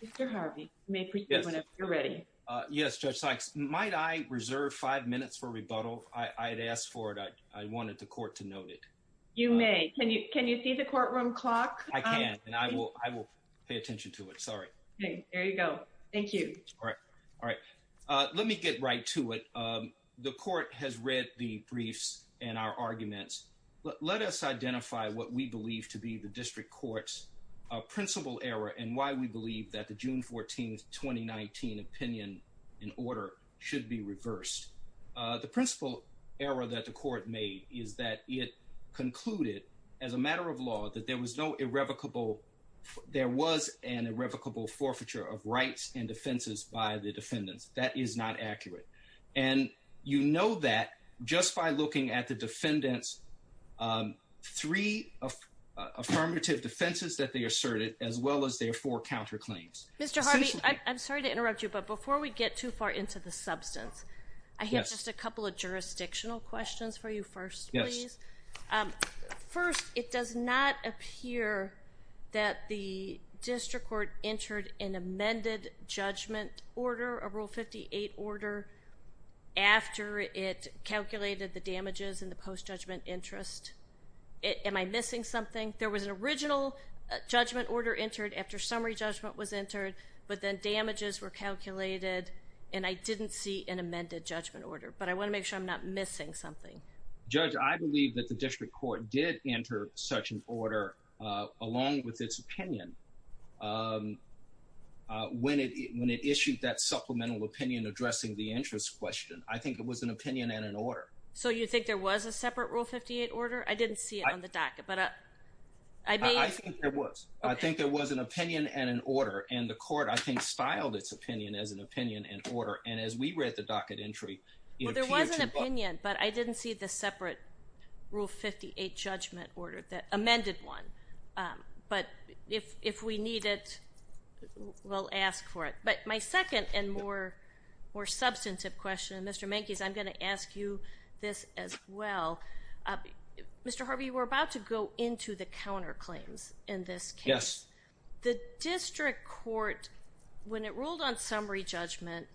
Mr. Harvey, you may proceed whenever you're ready. Yes, Judge Sykes. Might I reserve five minutes for rebuttal? I had asked for it. I wanted the court to note it. You may. Can you see the courtroom clock? I can, and I will pay attention to it. Sorry. Okay. There you go. Thank you. All right. Let me get right to it. The court has read the briefs and our arguments. Let us identify what we believe to be the district court's principal error and why we believe that the June 14, 2019 opinion in order should be reversed. The principal error that the court made is that it concluded, as a matter of law, that there was no irrevocable – there was an irrevocable forfeiture of rights and defenses by the defendants. That is not accurate. And you know that just by looking at the defendants' three affirmative defenses that they asserted as well as their four counterclaims. Mr. Harvey, I'm sorry to interrupt you, but before we get too far into the substance, I have just a couple of jurisdictional questions for you first, please. Yes. First, it does not appear that the district court entered an amended judgment order, a Rule 58 order, after it calculated the damages in the post-judgment interest. Am I missing something? There was an original judgment order entered after summary judgment was entered, but then damages were calculated, and I didn't see an amended judgment order. But I want to make sure I'm not missing something. Judge, I believe that the district court did enter such an order, along with its opinion, when it issued that supplemental opinion addressing the interest question. I think it was an opinion and an order. So you think there was a separate Rule 58 order? I didn't see it on the docket, but I may – I think there was. I think there was an opinion and an order, and the court, I think, styled its opinion as an opinion and order. And as we read the docket entry, it appeared to – Well, there was an opinion, but I didn't see the separate Rule 58 judgment order, the amended one. But if we need it, we'll ask for it. But my second and more substantive question, and Mr. Mankies, I'm going to ask you this as well. Mr. Harvey, you were about to go into the counterclaims in this case. Yes. The district court, when it ruled on summary judgment,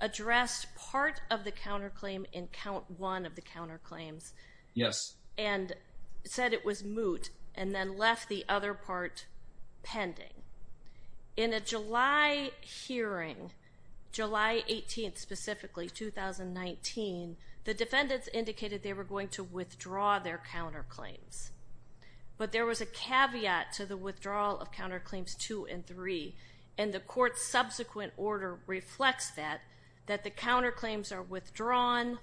addressed part of the counterclaim in count one of the counterclaims. Yes. And said it was moot, and then left the other part pending. In a July hearing, July 18th specifically, 2019, the defendants indicated they were going to withdraw their counterclaims. But there was a caveat to the withdrawal of counterclaims two and three. And the court's subsequent order reflects that, that the counterclaims are withdrawn.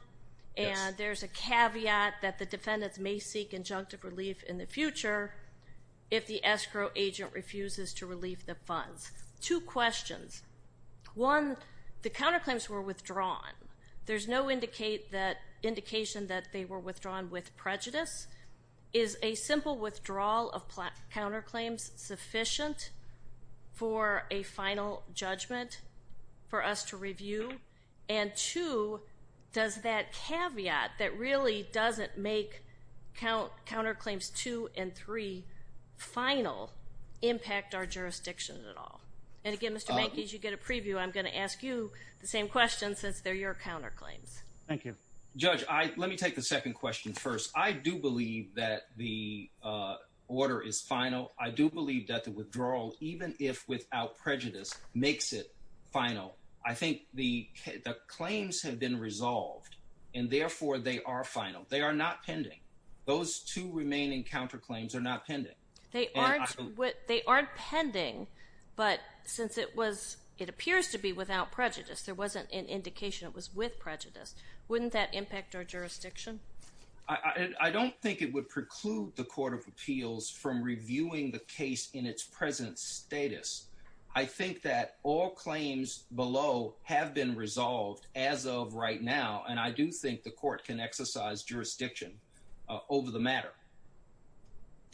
Yes. And there's a caveat that the defendants may seek injunctive relief in the future if the escrow agent refuses to relieve the funds. Two questions. One, the counterclaims were withdrawn. There's no indication that they were withdrawn with prejudice. Is a simple withdrawal of counterclaims sufficient for a final judgment for us to review? And two, does that caveat that really doesn't make counterclaims two and three final impact our jurisdiction at all? And again, Mr. Mankies, you get a preview. I'm going to ask you the same question since they're your counterclaims. Thank you. Judge, let me take the second question first. I do believe that the order is final. I do believe that the withdrawal, even if without prejudice, makes it final. I think the claims have been resolved, and therefore they are final. Those two remaining counterclaims are not pending. They aren't pending, but since it appears to be without prejudice, there wasn't an indication it was with prejudice, wouldn't that impact our jurisdiction? I don't think it would preclude the Court of Appeals from reviewing the case in its present status. I think that all claims below have been resolved as of right now, and I do think the court can exercise jurisdiction over the matter.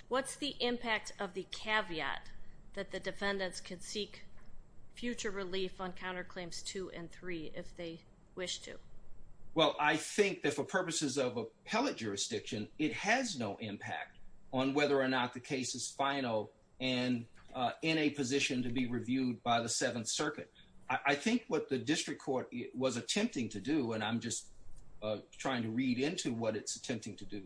What's the impact of the caveat that the defendants can seek future relief on counterclaims two and three if they wish to? Well, I think that for purposes of appellate jurisdiction, it has no impact on whether or not the case is final and in a position to be reviewed by the Seventh Circuit. I think what the district court was attempting to do, and I'm just trying to read into what it's attempting to do,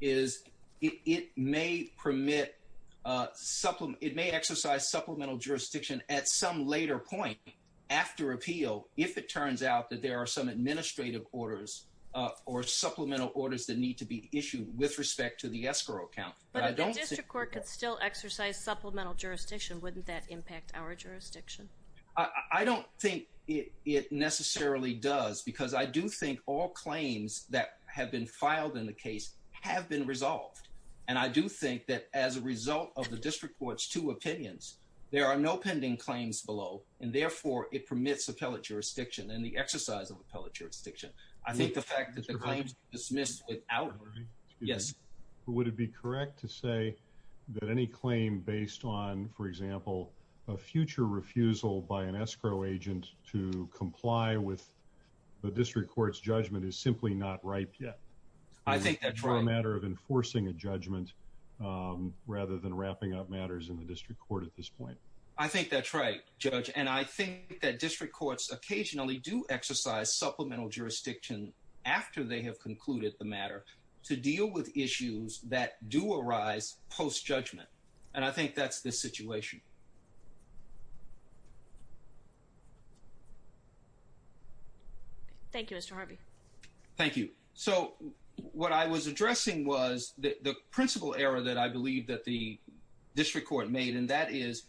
is it may permit, it may exercise supplemental jurisdiction at some later point after appeal if it turns out that there are some administrative orders or supplemental orders that need to be issued with respect to the escrow account. But if the district court could still exercise supplemental jurisdiction, wouldn't that impact our jurisdiction? I don't think it necessarily does, because I do think all claims that have been filed in the case have been resolved. And I do think that as a result of the district court's two opinions, there are no pending claims below, and therefore it permits appellate jurisdiction and the exercise of appellate jurisdiction. I think the fact that the claims were dismissed without... Would it be correct to say that any claim based on, for example, a future refusal by an escrow agent to comply with the district court's judgment is simply not ripe yet? I think that's right. It's a matter of enforcing a judgment rather than wrapping up matters in the district court at this point. I think that's right, Judge. And I think that district courts occasionally do exercise supplemental jurisdiction after they have concluded the matter to deal with issues that do arise post-judgment. And I think that's the situation. Thank you, Mr. Harvey. Thank you. So, what I was addressing was the principal error that I believe that the district court made, and that is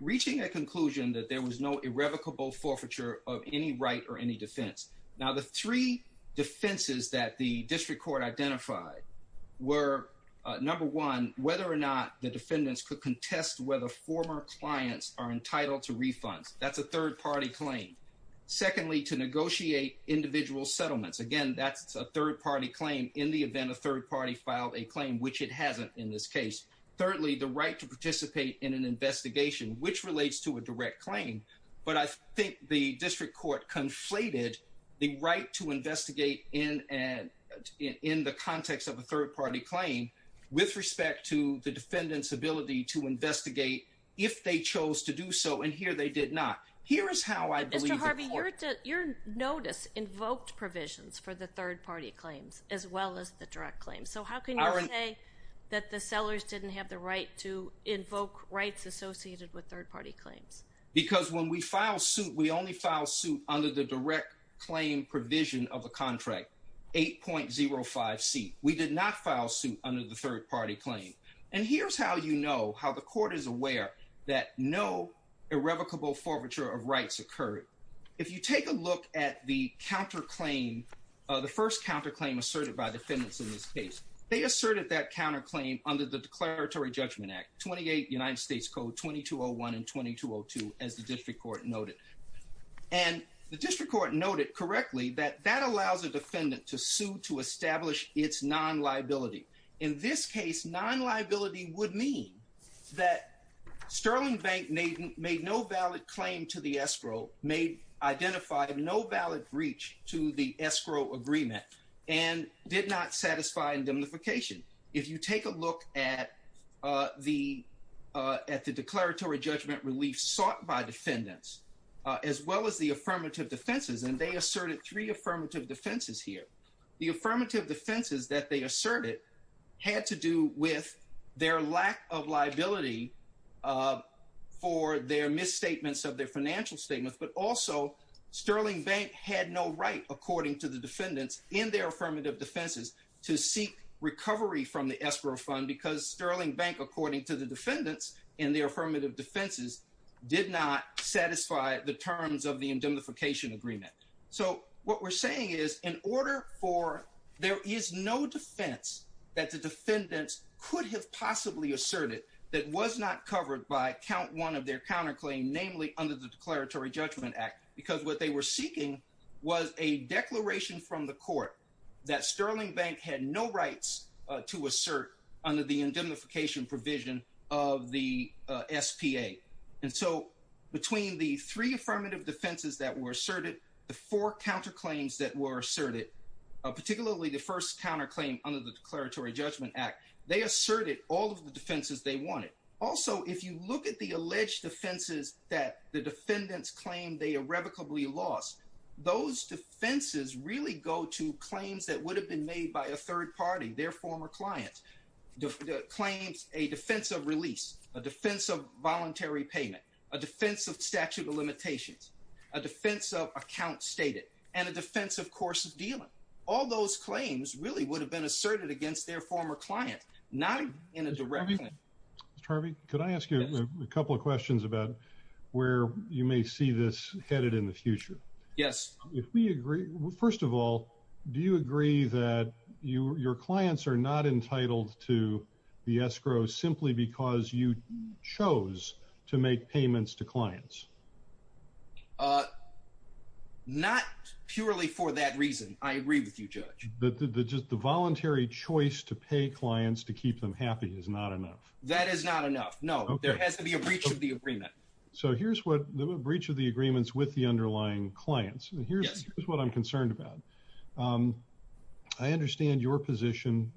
reaching a conclusion that there was no irrevocable forfeiture of any right or any defense. Now, the three defenses that the district court identified were, number one, whether or not the defendants could contest whether former clients are entitled to refunds. That's a third-party claim. Secondly, to negotiate individual settlements. Again, that's a third-party claim in the event a third party filed a claim, which it hasn't in this case. Thirdly, the right to participate in an investigation, which relates to a direct claim. But I think the district court conflated the right to investigate in the context of a third-party claim with respect to the defendant's ability to investigate if they chose to do so. And here they did not. Mr. Harvey, your notice invoked provisions for the third-party claims as well as the direct claims. So, how can you say that the sellers didn't have the right to invoke rights associated with third-party claims? Because when we file suit, we only file suit under the direct claim provision of the contract, 8.05C. We did not file suit under the third-party claim. And here's how you know, how the court is aware that no irrevocable forfeiture of rights occurred. If you take a look at the counterclaim, the first counterclaim asserted by defendants in this case, they asserted that counterclaim under the Declaratory Judgment Act, 28 United States Code 2201 and 2202, as the district court noted. And the district court noted correctly that that allows a defendant to sue to establish its non-liability. In this case, non-liability would mean that Sterling Bank made no valid claim to the escrow, identified no valid breach to the escrow agreement, and did not satisfy indemnification. If you take a look at the declaratory judgment relief sought by defendants, as well as the affirmative defenses, and they asserted three affirmative defenses here. The affirmative defenses that they asserted had to do with their lack of liability for their misstatements of their financial statements. But also, Sterling Bank had no right, according to the defendants in their affirmative defenses, to seek recovery from the escrow fund, because Sterling Bank, according to the defendants in their affirmative defenses, did not satisfy the terms of the indemnification agreement. So what we're saying is, in order for there is no defense that the defendants could have possibly asserted that was not covered by count one of their counterclaim, namely under the Declaratory Judgment Act, because what they were seeking was a declaration from the court that Sterling Bank had no rights to assert under the indemnification provision of the SPA. And so between the three affirmative defenses that were asserted, the four counterclaims that were asserted, particularly the first counterclaim under the Declaratory Judgment Act, they asserted all of the defenses they wanted. Also, if you look at the alleged defenses that the defendants claimed they irrevocably lost, those defenses really go to claims that would have been made by a third party, their former client. Claims, a defense of release, a defense of voluntary payment, a defense of statute of limitations, a defense of account stated, and a defense of course of dealing. All those claims really would have been asserted against their former client, not in a direct way. Mr. Harvey, could I ask you a couple of questions about where you may see this headed in the future? Yes. First of all, do you agree that your clients are not entitled to the escrow simply because you chose to make payments to clients? Not purely for that reason. I agree with you, Judge. The voluntary choice to pay clients to keep them happy is not enough? That is not enough, no. There has to be a breach of the agreement. So here's what the breach of the agreement is with the underlying clients. Yes. Here's what I'm concerned about. I understand your position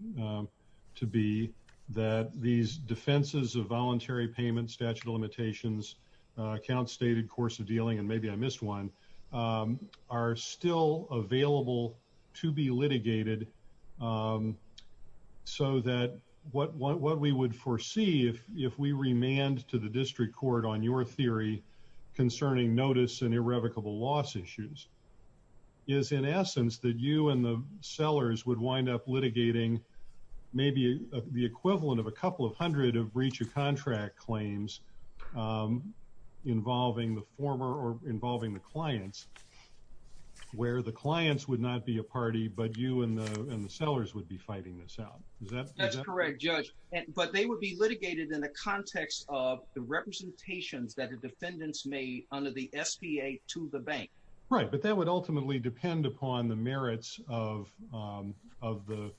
to be that these defenses of voluntary payments, statute of limitations, account stated, course of dealing, and maybe I missed one, are still available to be litigated. So that what we would foresee if we remand to the district court on your theory concerning notice and irrevocable loss issues is in essence that you and the sellers would wind up litigating maybe the equivalent of a couple of hundred of breach of contract claims involving the former or involving the clients. Where the clients would not be a party but you and the sellers would be fighting this out. That's correct, Judge. But they would be litigated in the context of the representations that the defendants made under the SBA to the bank. Right. But that would ultimately depend upon the merits of the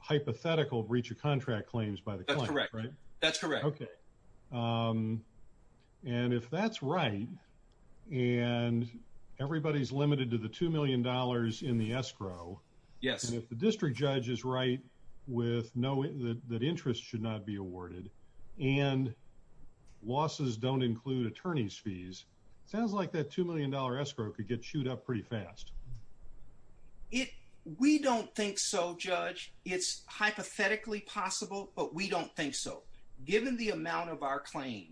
hypothetical breach of contract claims by the client. That's correct. Okay. And if that's right and everybody's limited to the $2 million in the escrow. Yes. And if the district judge is right with knowing that interest should not be awarded and losses don't include attorney's fees, it sounds like that $2 million escrow could get chewed up pretty fast. We don't think so, Judge. It's hypothetically possible, but we don't think so. Given the amount of our claim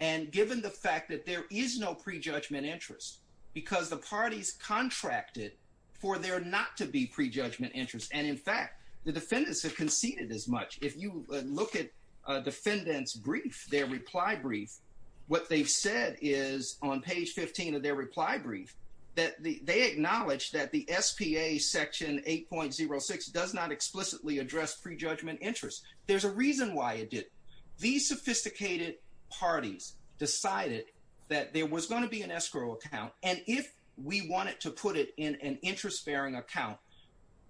and given the fact that there is no prejudgment interest because the parties contracted for there not to be prejudgment interest. And, in fact, the defendants have conceded as much. If you look at defendants' brief, their reply brief, what they've said is on page 15 of their reply brief that they acknowledge that the SBA section 8.06 does not explicitly address prejudgment interest. There's a reason why it didn't. These sophisticated parties decided that there was going to be an escrow account. And if we wanted to put it in an interest-bearing account,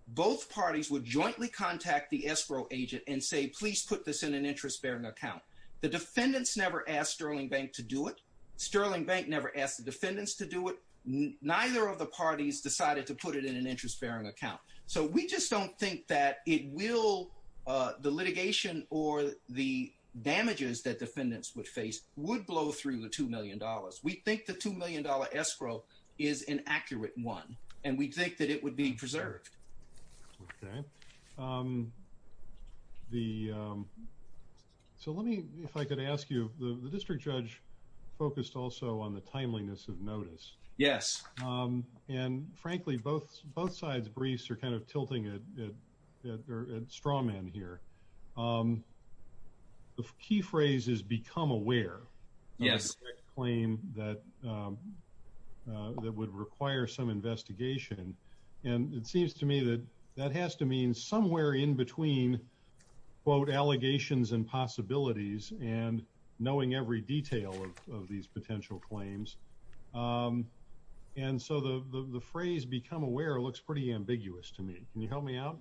both parties would jointly contact the escrow agent and say, please put this in an interest-bearing account. The defendants never asked Sterling Bank to do it. Sterling Bank never asked the defendants to do it. Neither of the parties decided to put it in an interest-bearing account. So we just don't think that it will, the litigation or the damages that defendants would face, would blow through the $2 million. We think the $2 million escrow is an accurate one. And we think that it would be preserved. So let me, if I could ask you, the district judge focused also on the timeliness of notice. Yes. And frankly, both sides' briefs are kind of tilting at straw man here. The key phrase is become aware. Yes. A claim that would require some investigation. And it seems to me that that has to mean somewhere in between, quote, allegations and possibilities and knowing every detail of these potential claims. And so the phrase become aware looks pretty ambiguous to me. Can you help me out?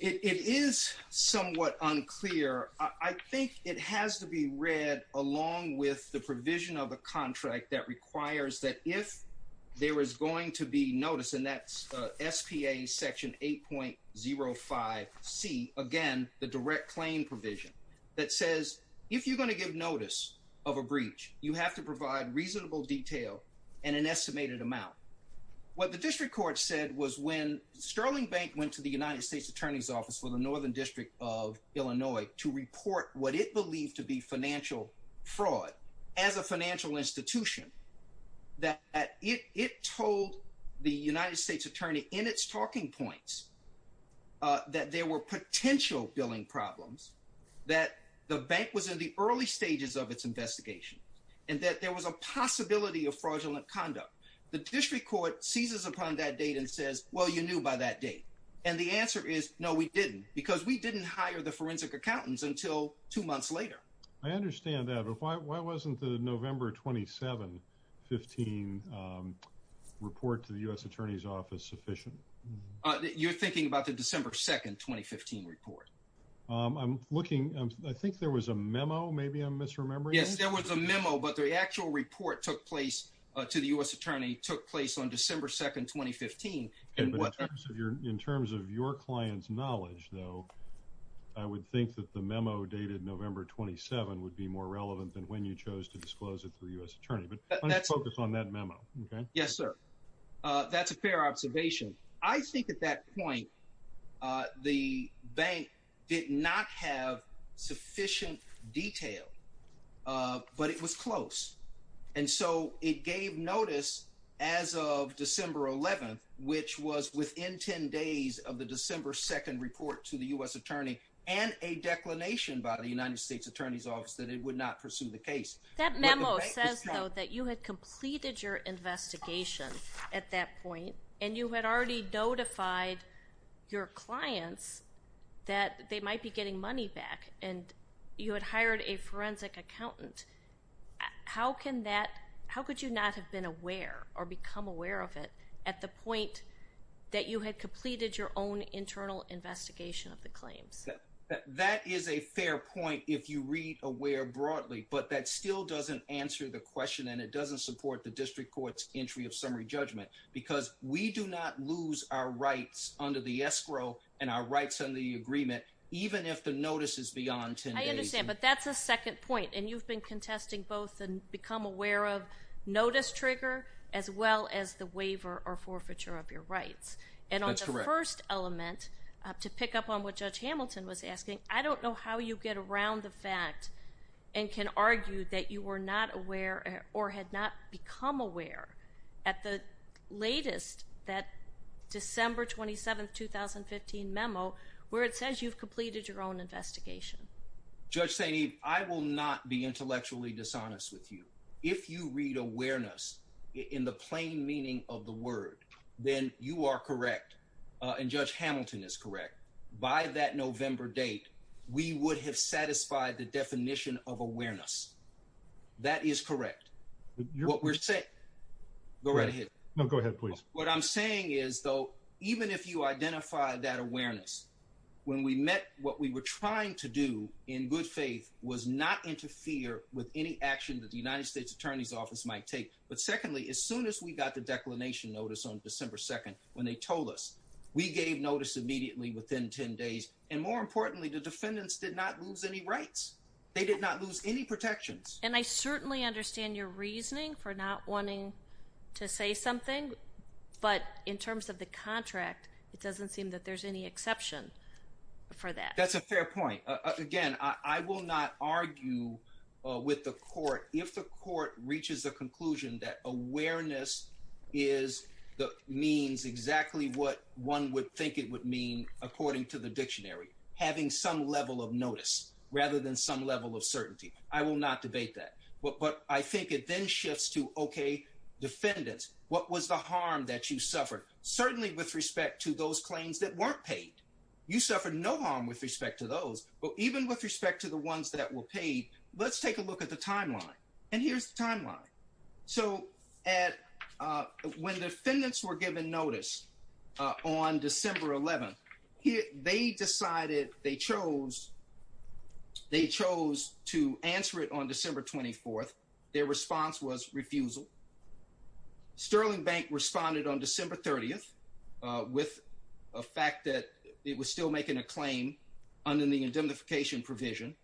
It is somewhat unclear. I think it has to be read along with the provision of a contract that requires that if there is going to be notice, and that's SPA Section 8.05C, again, the direct claim provision, that says if you're going to give notice of a breach, you have to provide reasonable detail and an estimated amount. What the district court said was when Sterling Bank went to the United States Attorney's Office for the Northern District of Illinois to report what it believed to be financial fraud as a financial institution, that it told the United States Attorney in its talking points that there were potential billing problems, that the bank was in the early stages of its investigation, and that there was a possibility of fraudulent conduct. The district court seizes upon that date and says, well, you knew by that date. And the answer is, no, we didn't, because we didn't hire the forensic accountants until two months later. I understand that. But why wasn't the November 27, 15 report to the U.S. Attorney's Office sufficient? You're thinking about the December 2, 2015 report. I'm looking. I think there was a memo. Maybe I'm misremembering. Yes, there was a memo, but the actual report took place to the U.S. Attorney took place on December 2, 2015. In terms of your client's knowledge, though, I would think that the memo dated November 27 would be more relevant than when you chose to disclose it to the U.S. Attorney. But let's focus on that memo. Yes, sir. That's a fair observation. I think at that point the bank did not have sufficient detail, but it was close. And so it gave notice as of December 11, which was within 10 days of the December 2 report to the U.S. Attorney, and a declination by the United States Attorney's Office that it would not pursue the case. That memo says, though, that you had completed your investigation at that point, and you had already notified your clients that they might be getting money back, and you had hired a forensic accountant. How could you not have been aware or become aware of it at the point that you had completed your own internal investigation of the claims? That is a fair point if you read aware broadly, but that still doesn't answer the question, and it doesn't support the district court's entry of summary judgment, because we do not lose our rights under the escrow and our rights under the agreement, even if the notice is beyond 10 days. I understand, but that's a second point. And you've been contesting both the become aware of notice trigger as well as the waiver or forfeiture of your rights. That's correct. to pick up on what Judge Hamilton was asking. I don't know how you get around the fact and can argue that you were not aware or had not become aware at the latest, that December 27, 2015 memo, where it says you've completed your own investigation. Judge Saini, I will not be intellectually dishonest with you. If you read awareness in the plain meaning of the word, then you are correct. And Judge Hamilton is correct. By that November date, we would have satisfied the definition of awareness. That is correct. What we're saying. Go right ahead. No, go ahead, please. What I'm saying is, though, even if you identify that awareness, when we met, what we were trying to do in good faith was not interfere with any action that the United States attorney's office might take. But secondly, as soon as we got the declination notice on December 2nd, when they told us we gave notice immediately within 10 days. And more importantly, the defendants did not lose any rights. They did not lose any protections. And I certainly understand your reasoning for not wanting to say something. But in terms of the contract, it doesn't seem that there's any exception for that. That's a fair point. Again, I will not argue with the court. If the court reaches a conclusion that awareness is the means exactly what one would think it would mean, according to the dictionary, having some level of notice rather than some level of certainty. I will not debate that. But I think it then shifts to, OK, defendants, what was the harm that you suffered? Certainly with respect to those claims that weren't paid. You suffered no harm with respect to those. But even with respect to the ones that were paid, let's take a look at the timeline. And here's the timeline. So when defendants were given notice on December 11th, they decided they chose to answer it on December 24th. Their response was refusal. Sterling Bank responded on December 30th with a fact that it was still making a claim under the indemnification provision.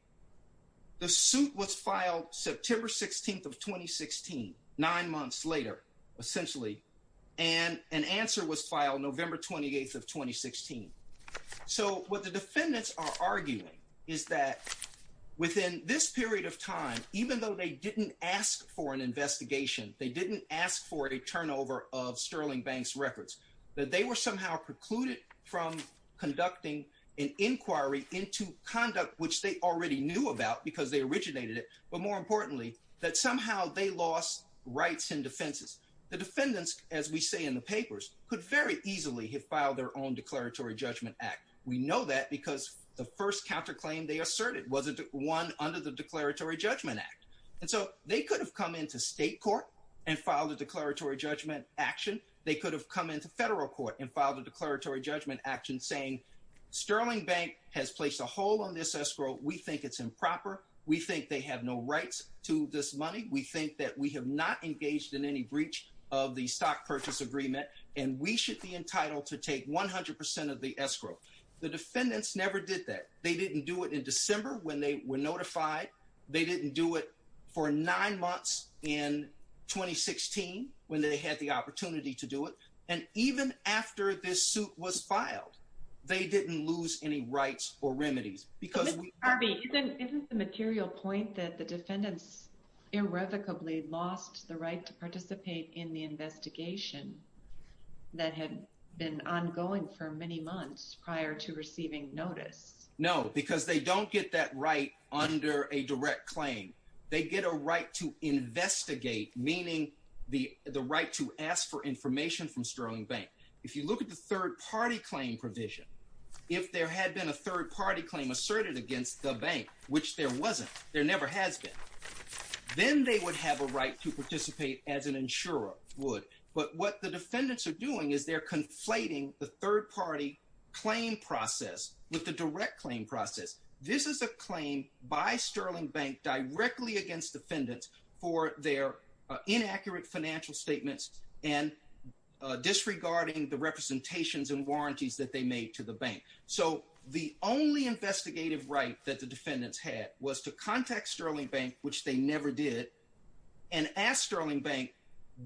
The suit was filed September 16th of 2016, nine months later, essentially, and an answer was filed November 28th of 2016. So what the defendants are arguing is that within this period of time, even though they didn't ask for an investigation, they didn't ask for a turnover of Sterling Bank's records, that they were somehow precluded from conducting an inquiry into conduct which they already knew about because they originated it, but more importantly, that somehow they lost rights and defenses. The defendants, as we say in the papers, could very easily have filed their own declaratory judgment act. We know that because the first counterclaim they asserted wasn't one under the Declaratory Judgment Act. And so they could have come into state court and filed a declaratory judgment action. They could have come into federal court and filed a declaratory judgment action saying, Sterling Bank has placed a hole on this escrow. We think it's improper. We think they have no rights to this money. We think that we have not engaged in any breach of the stock purchase agreement, and we should be entitled to take 100% of the escrow. The defendants never did that. They didn't do it in December when they were notified. They didn't do it for nine months in 2016 when they had the opportunity to do it. And even after this suit was filed, they didn't lose any rights or remedies. Ms. Harvey, isn't the material point that the defendants irrevocably lost the right to participate in the investigation that had been ongoing for many months prior to receiving notice? No, because they don't get that right under a direct claim. They get a right to investigate, meaning the right to ask for information from Sterling Bank. If you look at the third-party claim provision, if there had been a third-party claim asserted against the bank, which there wasn't, there never has been, then they would have a right to participate as an insurer would. But what the defendants are doing is they're conflating the third-party claim process with the direct claim process. This is a claim by Sterling Bank directly against defendants for their inaccurate financial statements and disregarding the representations and warranties that they made to the bank. So the only investigative right that the defendants had was to contact Sterling Bank, which they never did, and ask Sterling Bank,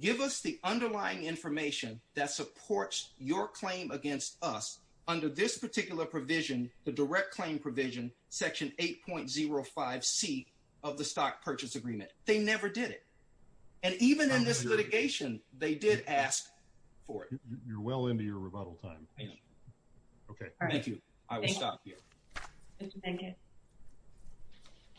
give us the underlying information that supports your claim against us under this particular provision, the direct claim provision, Section 8.05C of the Stock Purchase Agreement. They never did it. And even in this litigation, they did ask for it. You're well into your rebuttal time. Okay, thank you. I will stop here.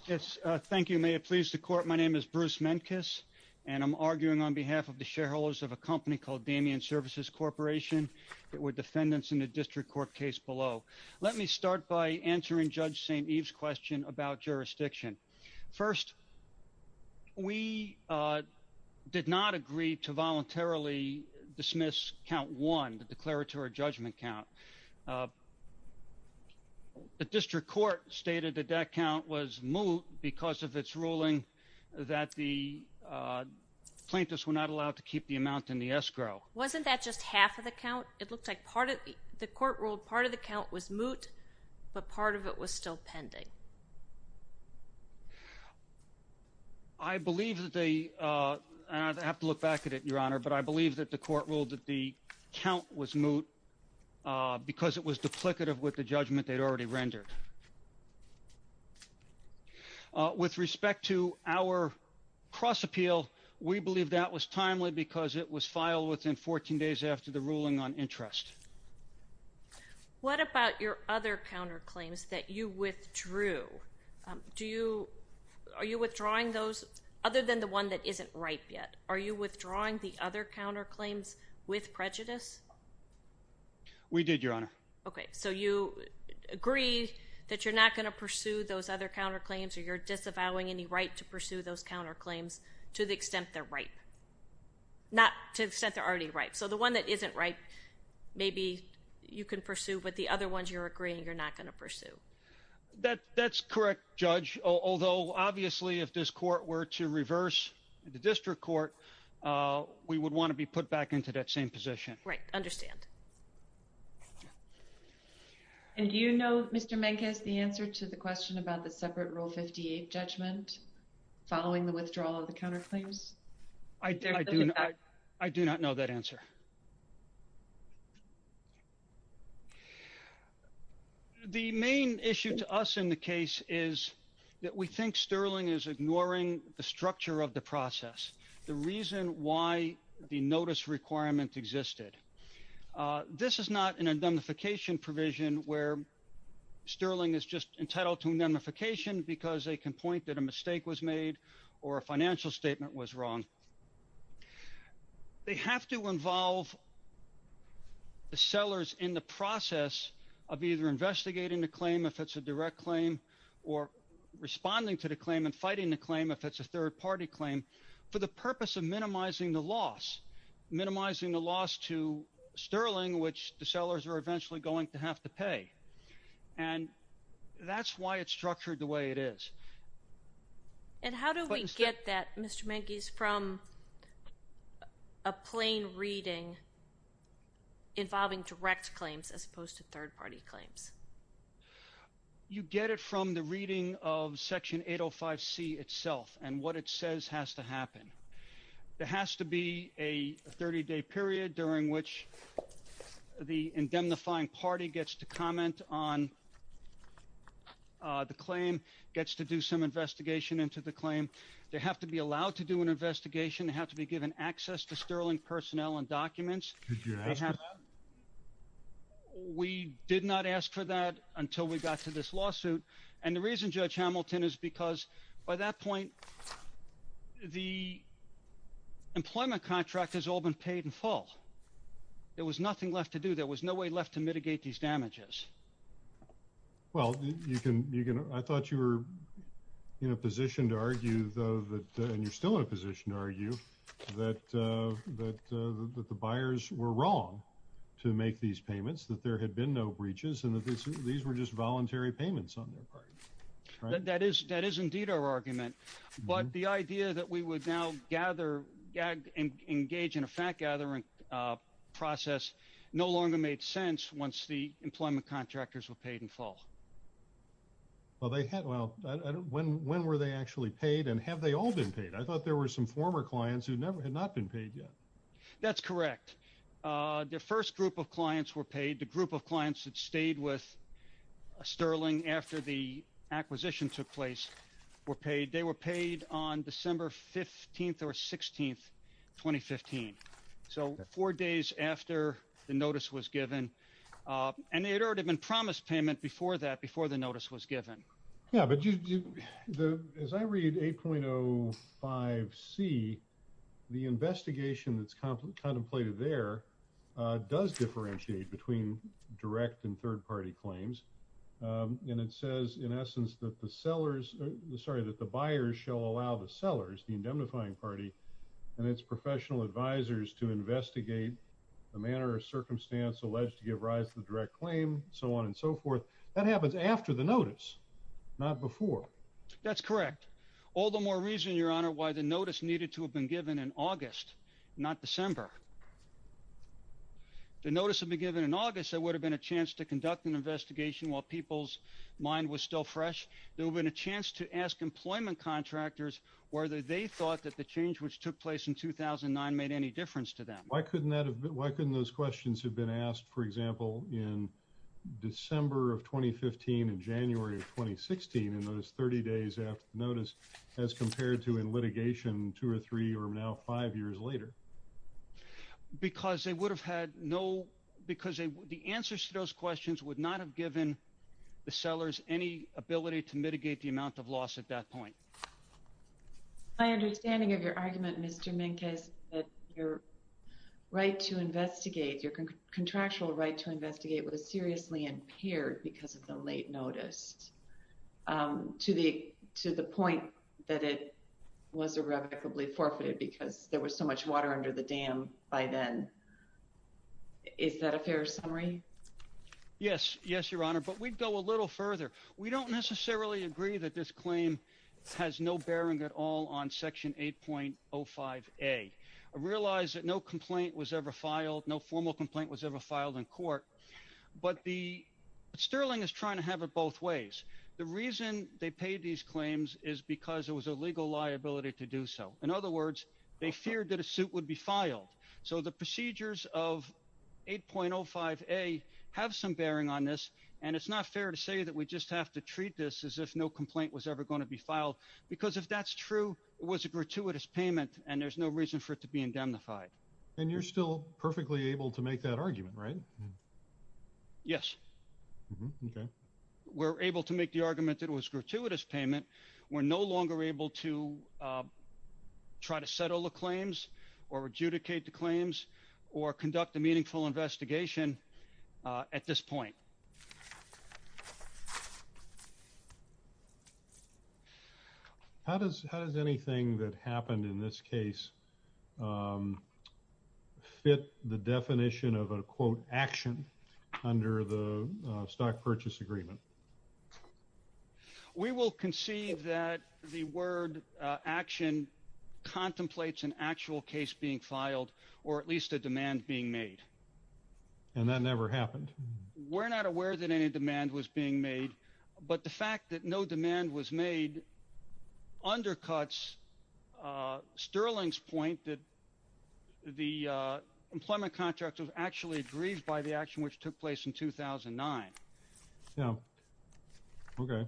Yes, thank you. May it please the Court. My name is Bruce Menkis, and I'm arguing on behalf of the shareholders of a company called Damien Services Corporation that were defendants in the district court case below. Let me start by answering Judge St. Eve's question about jurisdiction. First, we did not agree to voluntarily dismiss count one, the declaratory judgment count. The district court stated that that count was moot because of its ruling that the plaintiffs were not allowed to keep the amount in the escrow. Wasn't that just half of the count? It looks like part of the court ruled part of the count was moot, but part of it was still pending. I believe that they – and I'd have to look back at it, Your Honor, but I believe that the court ruled that the count was moot because it was duplicative with the judgment they'd already rendered. With respect to our cross-appeal, we believe that was timely because it was filed within 14 days after the ruling on interest. What about your other counterclaims that you withdrew? Do you – are you withdrawing those other than the one that isn't ripe yet? Are you withdrawing the other counterclaims with prejudice? We did, Your Honor. Okay, so you agree that you're not going to pursue those other counterclaims or you're disavowing any right to pursue those counterclaims to the extent they're ripe. Not to the extent they're already ripe. So the one that isn't ripe maybe you can pursue, but the other ones you're agreeing you're not going to pursue. That's correct, Judge, although obviously if this court were to reverse the district court, we would want to be put back into that same position. Right, understand. And do you know, Mr. Menkes, the answer to the question about the separate Rule 58 judgment following the withdrawal of the counterclaims? I do not know that answer. The main issue to us in the case is that we think Sterling is ignoring the structure of the process. The reason why the notice requirement existed. This is not an indemnification provision where Sterling is just entitled to indemnification because they can point that a mistake was made or a financial statement was wrong. They have to involve the sellers in the process of either investigating the claim if it's a direct claim or responding to the claim and fighting the claim if it's a third-party claim for the purpose of minimizing the loss. Minimizing the loss to Sterling, which the sellers are eventually going to have to pay. And that's why it's structured the way it is. And how do we get that, Mr. Menkes, from a plain reading involving direct claims as opposed to third-party claims? You get it from the reading of Section 805C itself and what it says has to happen. There has to be a 30-day period during which the indemnifying party gets to comment on the claim, gets to do some investigation into the claim. They have to be allowed to do an investigation. They have to be given access to Sterling personnel and documents. Did you ask for that? We did not ask for that until we got to this lawsuit. And the reason, Judge Hamilton, is because by that point, the employment contract has all been paid in full. There was nothing left to do. There was no way left to mitigate these damages. Well, I thought you were in a position to argue, and you're still in a position to argue, that the buyers were wrong to make these payments, that there had been no breaches, and that these were just voluntary payments on their part. That is indeed our argument. But the idea that we would now engage in a fact-gathering process no longer made sense once the employment contractors were paid in full. Well, when were they actually paid, and have they all been paid? I thought there were some former clients who had not been paid yet. That's correct. Their first group of clients were paid. The group of clients that stayed with Sterling after the acquisition took place were paid. They were paid on December 15th or 16th, 2015, so four days after the notice was given. And there had already been promised payment before that, before the notice was given. Yeah, but as I read 8.05c, the investigation that's contemplated there does differentiate between direct and third-party claims. And it says, in essence, that the buyers shall allow the sellers, the indemnifying party, and its professional advisors to investigate the manner or circumstance alleged to give rise to the direct claim, so on and so forth. That happens after the notice, not before. That's correct. All the more reason, Your Honor, why the notice needed to have been given in August, not December. If the notice had been given in August, there would have been a chance to conduct an investigation while people's mind was still fresh. There would have been a chance to ask employment contractors whether they thought that the change which took place in 2009 made any difference to them. Why couldn't those questions have been asked, for example, in December of 2015 and January of 2016, in those 30 days after the notice, as compared to in litigation two or three or now five years later? Because they would have had no—because the answers to those questions would not have given the sellers any ability to mitigate the amount of loss at that point. My understanding of your argument, Mr. Minkes, that your right to investigate, your contractual right to investigate, was seriously impaired because of the late notice, to the point that it was irrevocably forfeited because there was so much water under the dam by then. Is that a fair summary? Yes. Yes, Your Honor. But we'd go a little further. We don't necessarily agree that this claim has no bearing at all on Section 8.05a. I realize that no complaint was ever filed, no formal complaint was ever filed in court, but the—Sterling is trying to have it both ways. The reason they paid these claims is because it was a legal liability to do so. In other words, they feared that a suit would be filed. So the procedures of 8.05a have some bearing on this, and it's not fair to say that we just have to treat this as if no complaint was ever going to be filed because if that's true, it was a gratuitous payment, and there's no reason for it to be indemnified. And you're still perfectly able to make that argument, right? Yes. Okay. We're able to make the argument that it was a gratuitous payment. We're no longer able to try to settle the claims or adjudicate the claims or conduct a meaningful investigation at this point. How does anything that happened in this case fit the definition of a, quote, action under the Stock Purchase Agreement? We will concede that the word action contemplates an actual case being filed or at least a demand being made. And that never happened? We're not aware that any demand was being made. But the fact that no demand was made undercuts Sterling's point that the employment contract was actually agreed by the action which took place in 2009. Yeah. Okay.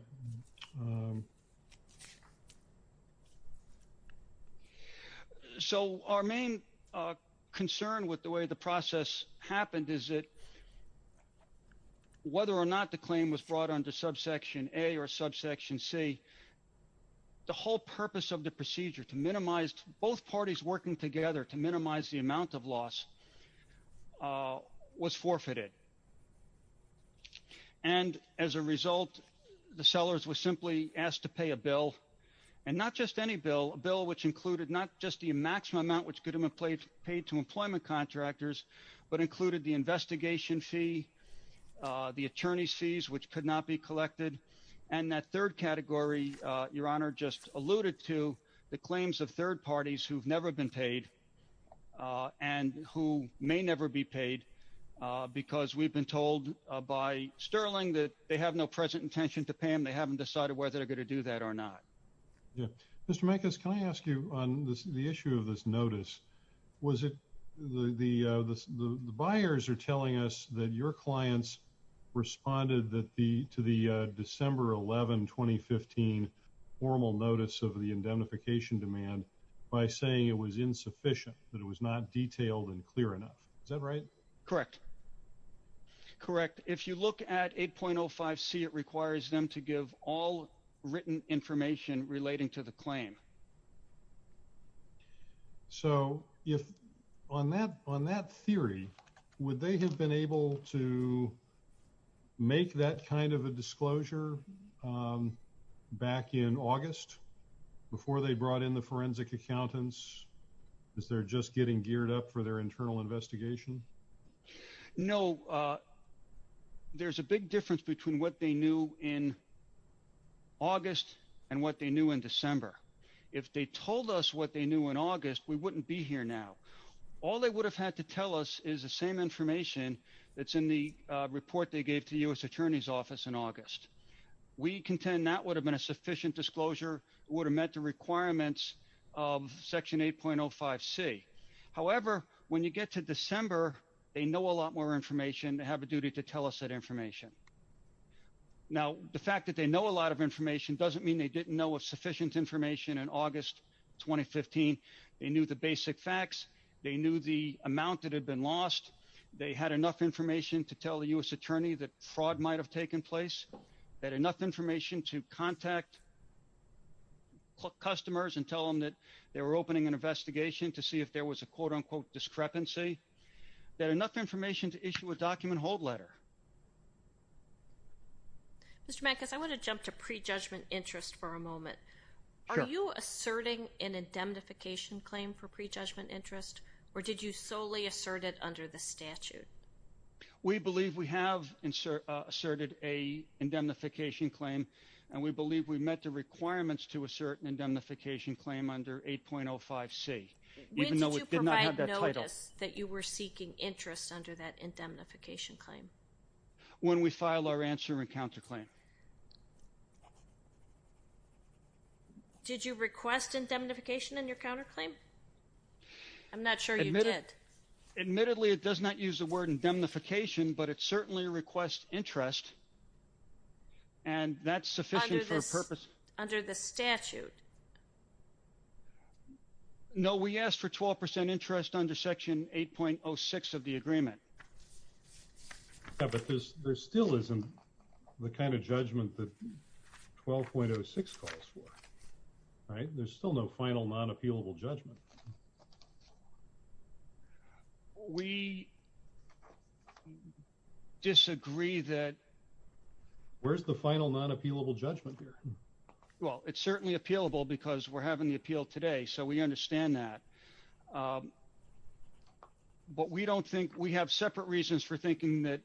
So our main concern with the way the process happened is that whether or not the claim was brought under subsection A or subsection C, the whole purpose of the procedure to minimize both parties working together to minimize the amount of loss was forfeited. And as a result, the sellers were simply asked to pay a bill and not just any bill, a bill which included not just the maximum amount which could have been paid to employment contractors, but included the investigation fee, the attorney's fees, which could not be collected. And that third category, Your Honor, just alluded to the claims of third parties who've never been paid and who may never be paid because we've been told by Sterling that they have no present intention to pay them. They haven't decided whether they're going to do that or not. Mr. Micas, can I ask you on the issue of this notice? Was it the buyers are telling us that your clients responded that the to the December 11, 2015, formal notice of the indemnification demand by saying it was insufficient, that it was not detailed and clear enough. Is that right? Correct. Correct. If you look at 8.05 C, it requires them to give all written information relating to the claim. So if on that, on that theory, would they have been able to make that kind of a disclosure back in August before they brought in the forensic accountants? Is there just getting geared up for their internal investigation? No, there's a big difference between what they knew in August and what they knew in December. If they told us what they knew in August, we wouldn't be here now. All they would have had to tell us is the same information that's in the report they gave to the U.S. Attorney's Office in August. We contend that would have been a sufficient disclosure would have met the requirements of Section 8.05 C. However, when you get to December, they know a lot more information. They have a duty to tell us that information. Now, the fact that they know a lot of information doesn't mean they didn't know of sufficient information in August 2015. They knew the basic facts. They knew the amount that had been lost. They had enough information to tell the U.S. Attorney that fraud might have taken place. They had enough information to contact customers and tell them that they were opening an investigation to see if there was a quote-unquote discrepancy. They had enough information to issue a document hold letter. Mr. Mankis, I want to jump to prejudgment interest for a moment. Sure. Were you asserting an indemnification claim for prejudgment interest, or did you solely assert it under the statute? We believe we have asserted an indemnification claim, and we believe we met the requirements to assert an indemnification claim under 8.05 C. When did you provide notice that you were seeking interest under that indemnification claim? When we filed our answer and counterclaim. Did you request indemnification in your counterclaim? I'm not sure you did. Admittedly, it does not use the word indemnification, but it certainly requests interest, and that's sufficient for a purpose. Under the statute. No, we asked for 12 percent interest under Section 8.06 of the agreement. But there still isn't the kind of judgment that 12.06 calls for, right? There's still no final non-appealable judgment. We disagree that. Where's the final non-appealable judgment here? Well, it's certainly appealable because we're having the appeal today, so we understand that. But we don't think we have separate reasons for thinking that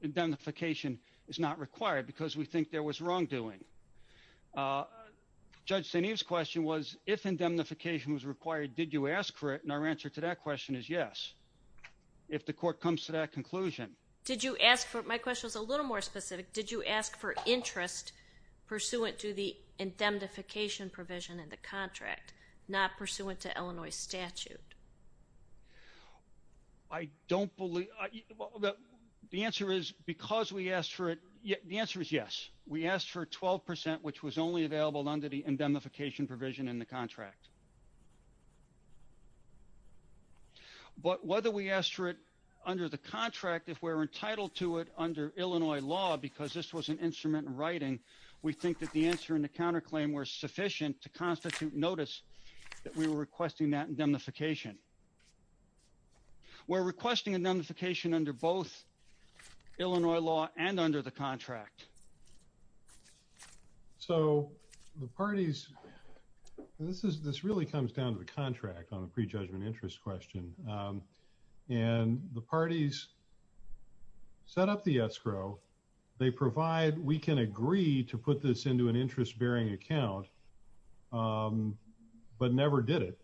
indemnification is not required because we think there was wrongdoing. Judge St. Eve's question was, if indemnification was required, did you ask for it? And our answer to that question is yes, if the court comes to that conclusion. Did you ask for it? My question was a little more specific. Did you ask for interest pursuant to the indemnification provision in the contract, not pursuant to Illinois statute? I don't believe the answer is because we asked for it. The answer is yes. We asked for 12 percent, which was only available under the indemnification provision in the contract. But whether we asked for it under the contract, if we're entitled to it under Illinois law because this was an instrument in writing, we think that the answer in the counterclaim was sufficient to constitute notice that we were requesting that indemnification. We're requesting indemnification under both Illinois law and under the contract. So the parties, this really comes down to the contract on the prejudgment interest question. And the parties set up the escrow. They provide we can agree to put this into an interest bearing account, but never did it.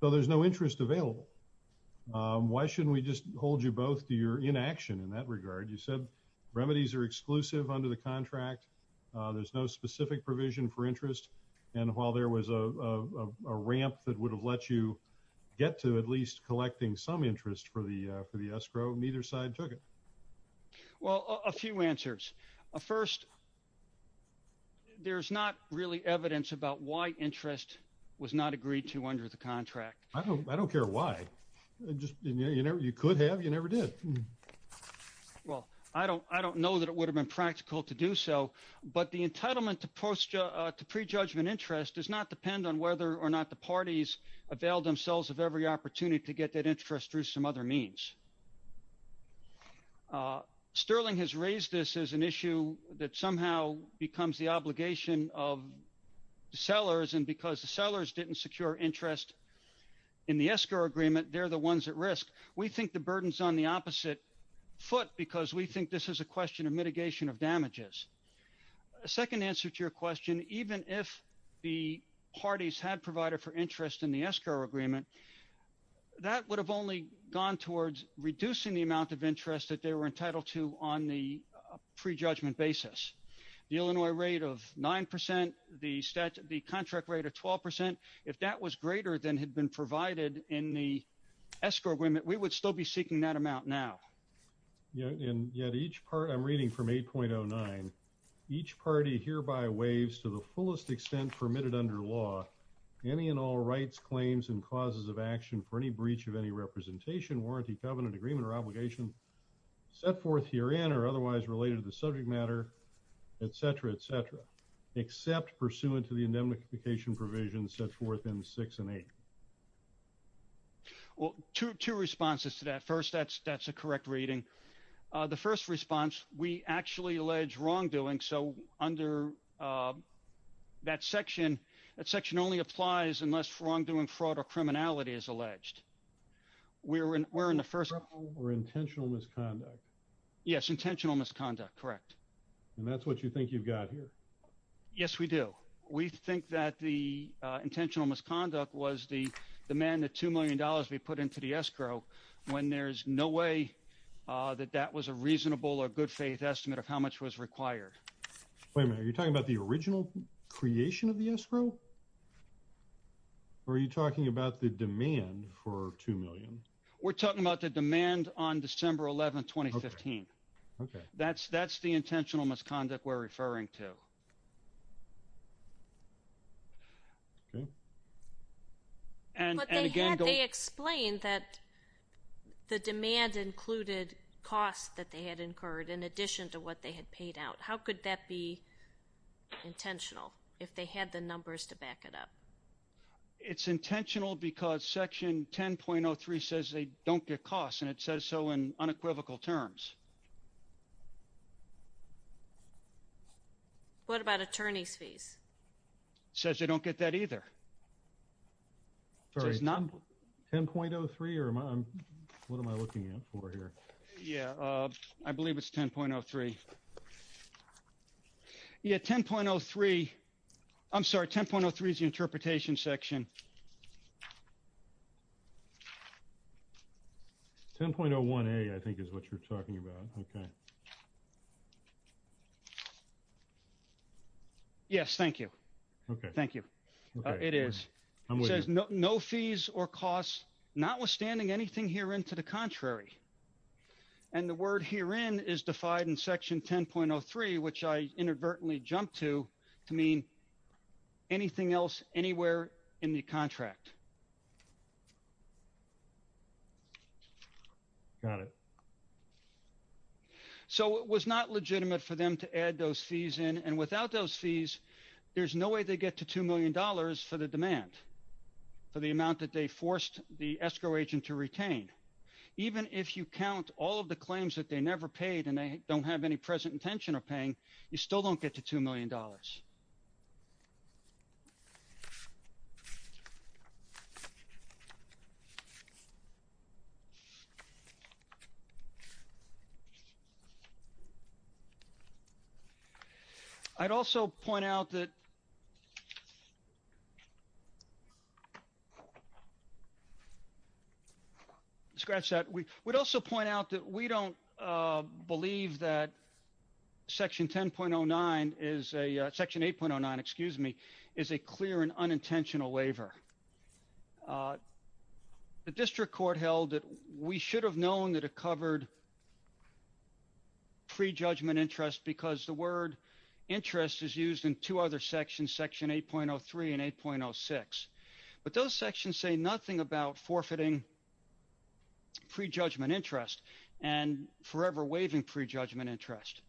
So there's no interest available. Why shouldn't we just hold you both to your inaction in that regard? You said remedies are exclusive under the contract. There's no specific provision for interest. And while there was a ramp that would have let you get to at least collecting some interest for the escrow, neither side took it. Well, a few answers. First, there's not really evidence about why interest was not agreed to under the contract. I don't care why. You could have. You never did. Well, I don't I don't know that it would have been practical to do so. But the entitlement to posture to prejudgment interest does not depend on whether or not the parties avail themselves of every opportunity to get that interest through some other means. Sterling has raised this as an issue that somehow becomes the obligation of the sellers. And because the sellers didn't secure interest in the escrow agreement, they're the ones at risk. We think the burden's on the opposite foot because we think this is a question of mitigation of damages. A second answer to your question, even if the parties had provided for interest in the escrow agreement, that would have only gone towards reducing the amount of interest that they were entitled to on the prejudgment basis. The Illinois rate of 9 percent, the contract rate of 12 percent. If that was greater than had been provided in the escrow agreement, we would still be seeking that amount now. And yet each part I'm reading from eight point oh nine. Each party hereby waives to the fullest extent permitted under law any and all rights, claims and causes of action for any breach of any representation, warranty, covenant agreement or obligation set forth herein or otherwise related to the subject matter, et cetera, et cetera. Except pursuant to the indemnification provisions set forth in six and eight. Well, two two responses to that first. That's that's a correct reading. The first response we actually allege wrongdoing. So under that section, that section only applies unless wrongdoing, fraud or criminality is alleged. We're in we're in the first or intentional misconduct. Yes. Intentional misconduct. Correct. And that's what you think you've got here. Yes, we do. We think that the intentional misconduct was the the man, the two million dollars we put into the escrow when there's no way that that was a reasonable or good faith estimate of how much was required. Are you talking about the original creation of the escrow? Are you talking about the demand for two million? We're talking about the demand on December 11, 2015. OK, that's that's the intentional misconduct we're referring to. OK. And again, they explained that the demand included costs that they had incurred in addition to what they had paid out. How could that be intentional if they had the numbers to back it up? It's intentional because Section 10.03 says they don't get costs and it says so in unequivocal terms. What about attorney's fees? Says they don't get that either. Sorry, it's not 10.03 or what am I looking for here? Yeah, I believe it's 10.03. Yeah, 10.03. I'm sorry, 10.03 is the interpretation section. 10.01A I think is what you're talking about. OK. Yes, thank you. OK, thank you. It is no fees or costs, notwithstanding anything here into the contrary. And the word herein is defied in Section 10.03, which I inadvertently jumped to to mean anything else anywhere in the contract. Got it. So it was not legitimate for them to add those fees in and without those fees, there's no way they get to two million dollars for the demand. For the amount that they forced the escrow agent to retain. Even if you count all of the claims that they never paid and they don't have any present intention of paying, you still don't get to two million dollars. I'd also point out that. Scratch that. We would also point out that we don't believe that Section 10.09 is a Section 8.09, excuse me, is a clear and unintentional waiver. The district court held that we should have known that it covered pre-judgment interest because the word interest is used in two other sections, Section 8.03 and 8.06. But those sections say nothing about forfeiting pre-judgment interest and forever waiving pre-judgment interest.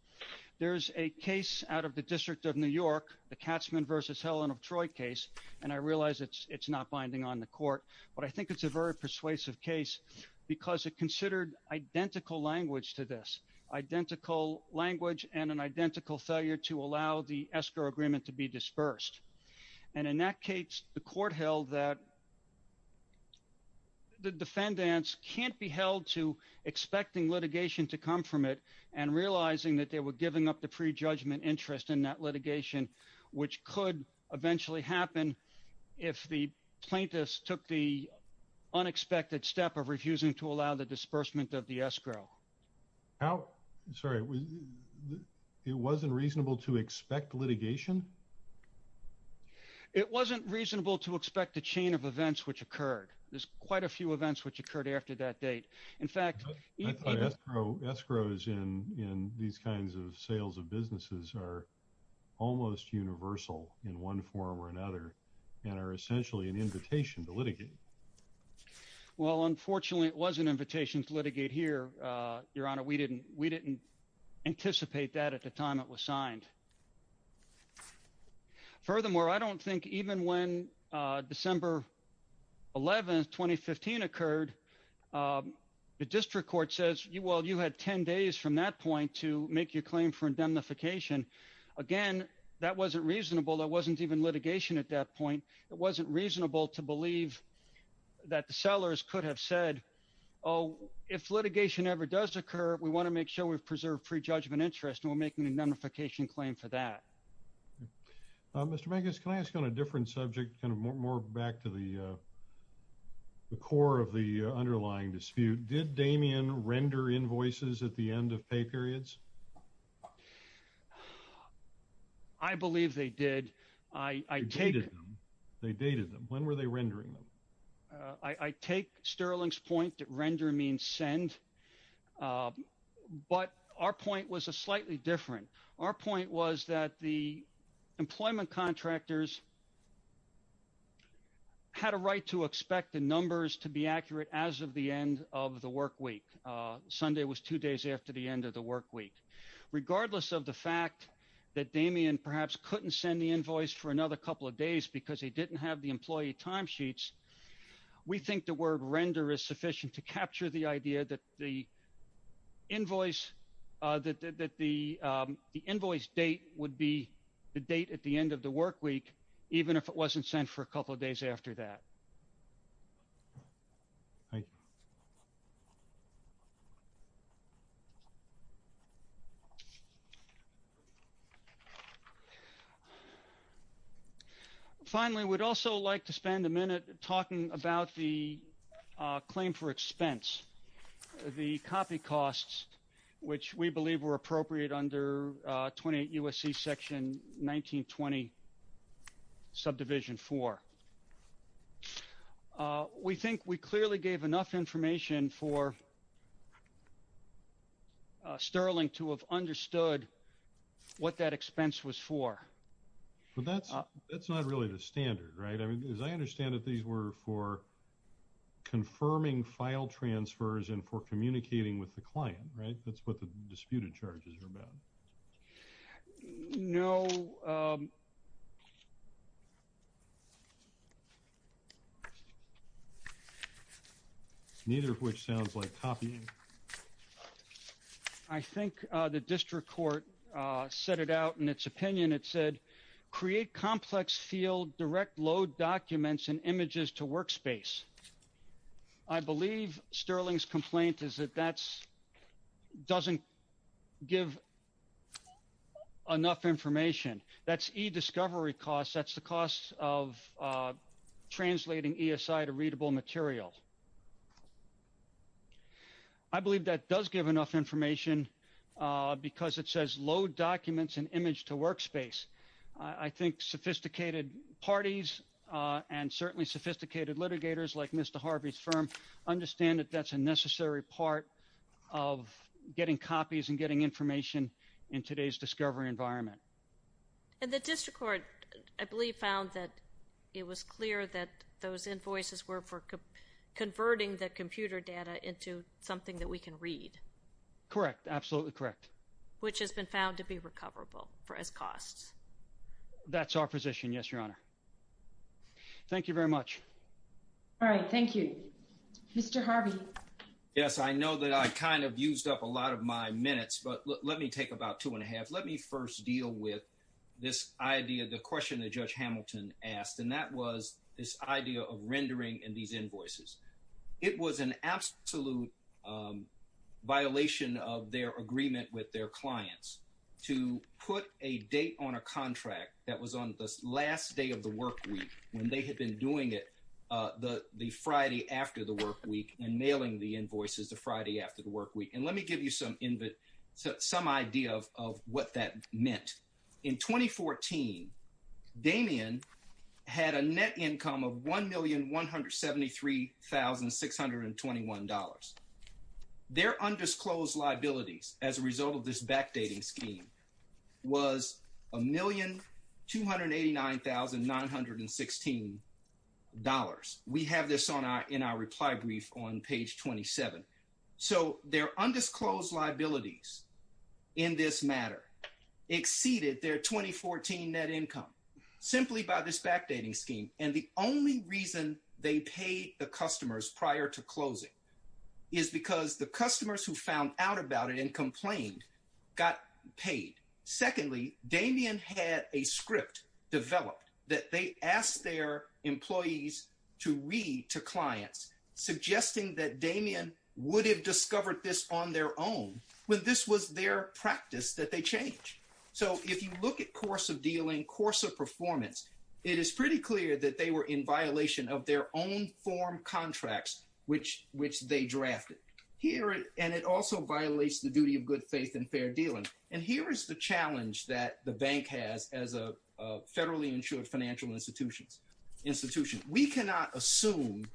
There's a case out of the District of New York, the Katzmann v. Helen of Troy case, and I realize it's not binding on the court, but I think it's a very persuasive case because it considered identical language to this. Identical language and an identical failure to allow the escrow agreement to be dispersed. And in that case, the court held that the defendants can't be held to expecting litigation to come from it and realizing that they were giving up the pre-judgment interest in that litigation, which could eventually happen if the plaintiffs took the unexpected step of refusing to allow the disbursement of the escrow. Sorry. It wasn't reasonable to expect litigation? It wasn't reasonable to expect a chain of events which occurred. There's quite a few events which occurred after that date. In fact, escrows in these kinds of sales of businesses are almost universal in one form or another and are essentially an invitation to litigate. Well, unfortunately, it was an invitation to litigate here, Your Honor. We didn't anticipate that at the time it was signed. Furthermore, I don't think even when December 11, 2015 occurred, the district court says, well, you had 10 days from that point to make your claim for indemnification. Again, that wasn't reasonable. That wasn't even litigation at that point. It wasn't reasonable to believe that the sellers could have said, oh, if litigation ever does occur, we want to make sure we've preserved pre-judgment interest and we'll make an indemnification claim for that. Mr. Mangus, can I ask on a different subject, kind of more back to the core of the underlying dispute? Did Damien render invoices at the end of pay periods? I believe they did. They dated them. They dated them. When were they rendering them? I take Sterling's point that render means send, but our point was slightly different. Our point was that the employment contractors had a right to expect the numbers to be accurate as of the end of the work week. Sunday was two days after the end of the work week. Regardless of the fact that Damien perhaps couldn't send the invoice for another couple of days because he didn't have the employee timesheets, we think the word render is sufficient to capture the idea that the invoice date would be the date at the end of the work week, even if it wasn't sent for a couple of days after that. Thank you. Finally, we'd also like to spend a minute talking about the claim for expense, the copy costs, which we believe were appropriate under 28 U.S.C. Section 1920 Subdivision 4. We think we clearly gave enough information for Sterling to have understood what that expense was for. But that's not really the standard, right? As I understand it, these were for confirming file transfers and for communicating with the client, right? That's what the disputed charges were about. No. Neither of which sounds like copying. I think the district court set it out in its opinion. It said create complex field, direct load documents and images to workspace. I believe Sterling's complaint is that that doesn't give enough information. That's e-discovery costs. That's the cost of translating ESI to readable material. I believe that does give enough information because it says load documents and image to workspace. I think sophisticated parties and certainly sophisticated litigators like Mr. Harvey's firm understand that that's a necessary part of getting copies and getting information in today's discovery environment. And the district court, I believe, found that it was clear that those invoices were for converting the computer data into something that we can read. Correct. Absolutely correct. Which has been found to be recoverable for its costs. That's our position, yes, Your Honor. Thank you very much. All right. Thank you. Mr. Harvey. Yes, I know that I kind of used up a lot of my minutes, but let me take about two and a half. Let me first deal with this idea, the question that Judge Hamilton asked, and that was this idea of rendering in these invoices. It was an absolute violation of their agreement with their clients to put a date on a contract that was on the last day of the workweek when they had been doing it the Friday after the workweek and mailing the invoices the Friday after the workweek. And let me give you some idea of what that meant. In 2014, Damien had a net income of $1,173,621. Their undisclosed liabilities as a result of this backdating scheme was $1,289,916. We have this in our reply brief on page 27. So their undisclosed liabilities in this matter exceeded their 2014 net income simply by this backdating scheme. And the only reason they paid the customers prior to closing is because the customers who found out about it and complained got paid. Secondly, Damien had a script developed that they asked their employees to read to clients, suggesting that Damien would have discovered this on their own when this was their practice that they changed. So if you look at course of dealing, course of performance, it is pretty clear that they were in violation of their own form contracts, which they drafted. And it also violates the duty of good faith and fair dealing. And here is the challenge that the bank has as a federally insured financial institution. We cannot assume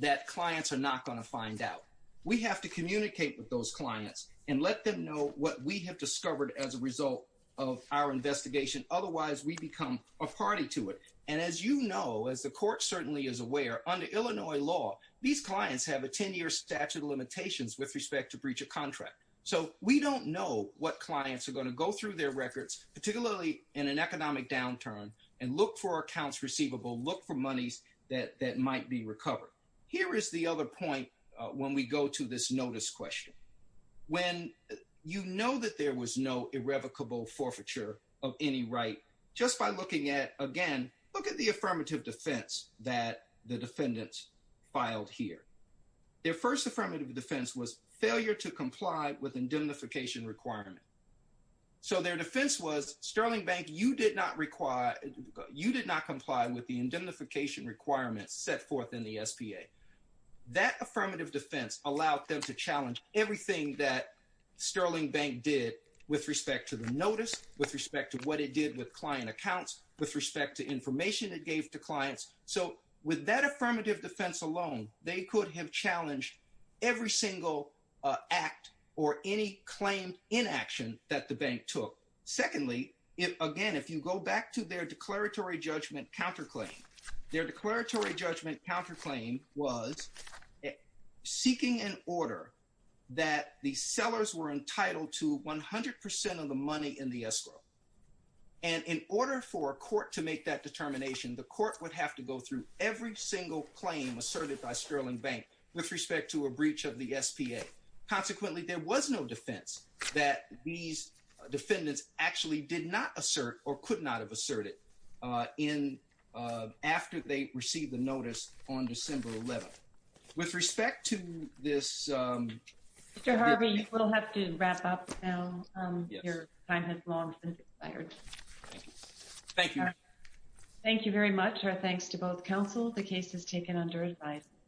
that clients are not going to find out. We have to communicate with those clients and let them know what we have discovered as a result of our investigation. Otherwise, we become a party to it. And as you know, as the court certainly is aware, under Illinois law, these clients have a 10-year statute of limitations with respect to breach of contract. So we don't know what clients are going to go through their records, particularly in an economic downturn, and look for accounts receivable, look for monies that might be recovered. Here is the other point when we go to this notice question. When you know that there was no irrevocable forfeiture of any right, just by looking at, again, look at the affirmative defense that the defendants filed here. Their first affirmative defense was failure to comply with indemnification requirement. So their defense was, Sterling Bank, you did not comply with the indemnification requirements set forth in the SPA. That affirmative defense allowed them to challenge everything that Sterling Bank did with respect to the notice, with respect to what it did with client accounts, with respect to information it gave to clients. So with that affirmative defense alone, they could have challenged every single act or any claim in action that the bank took. Secondly, again, if you go back to their declaratory judgment counterclaim, their declaratory judgment counterclaim was seeking an order that the sellers were entitled to 100% of the money in the escrow. And in order for a court to make that determination, the court would have to go through every single claim asserted by Sterling Bank with respect to a breach of the SPA. Consequently, there was no defense that these defendants actually did not assert or could not have asserted in, after they received the notice on December 11th. With respect to this... Mr. Harvey, we'll have to wrap up now. Your time has long been expired. Thank you. Thank you very much. Our thanks to both counsel. The case is taken under advice.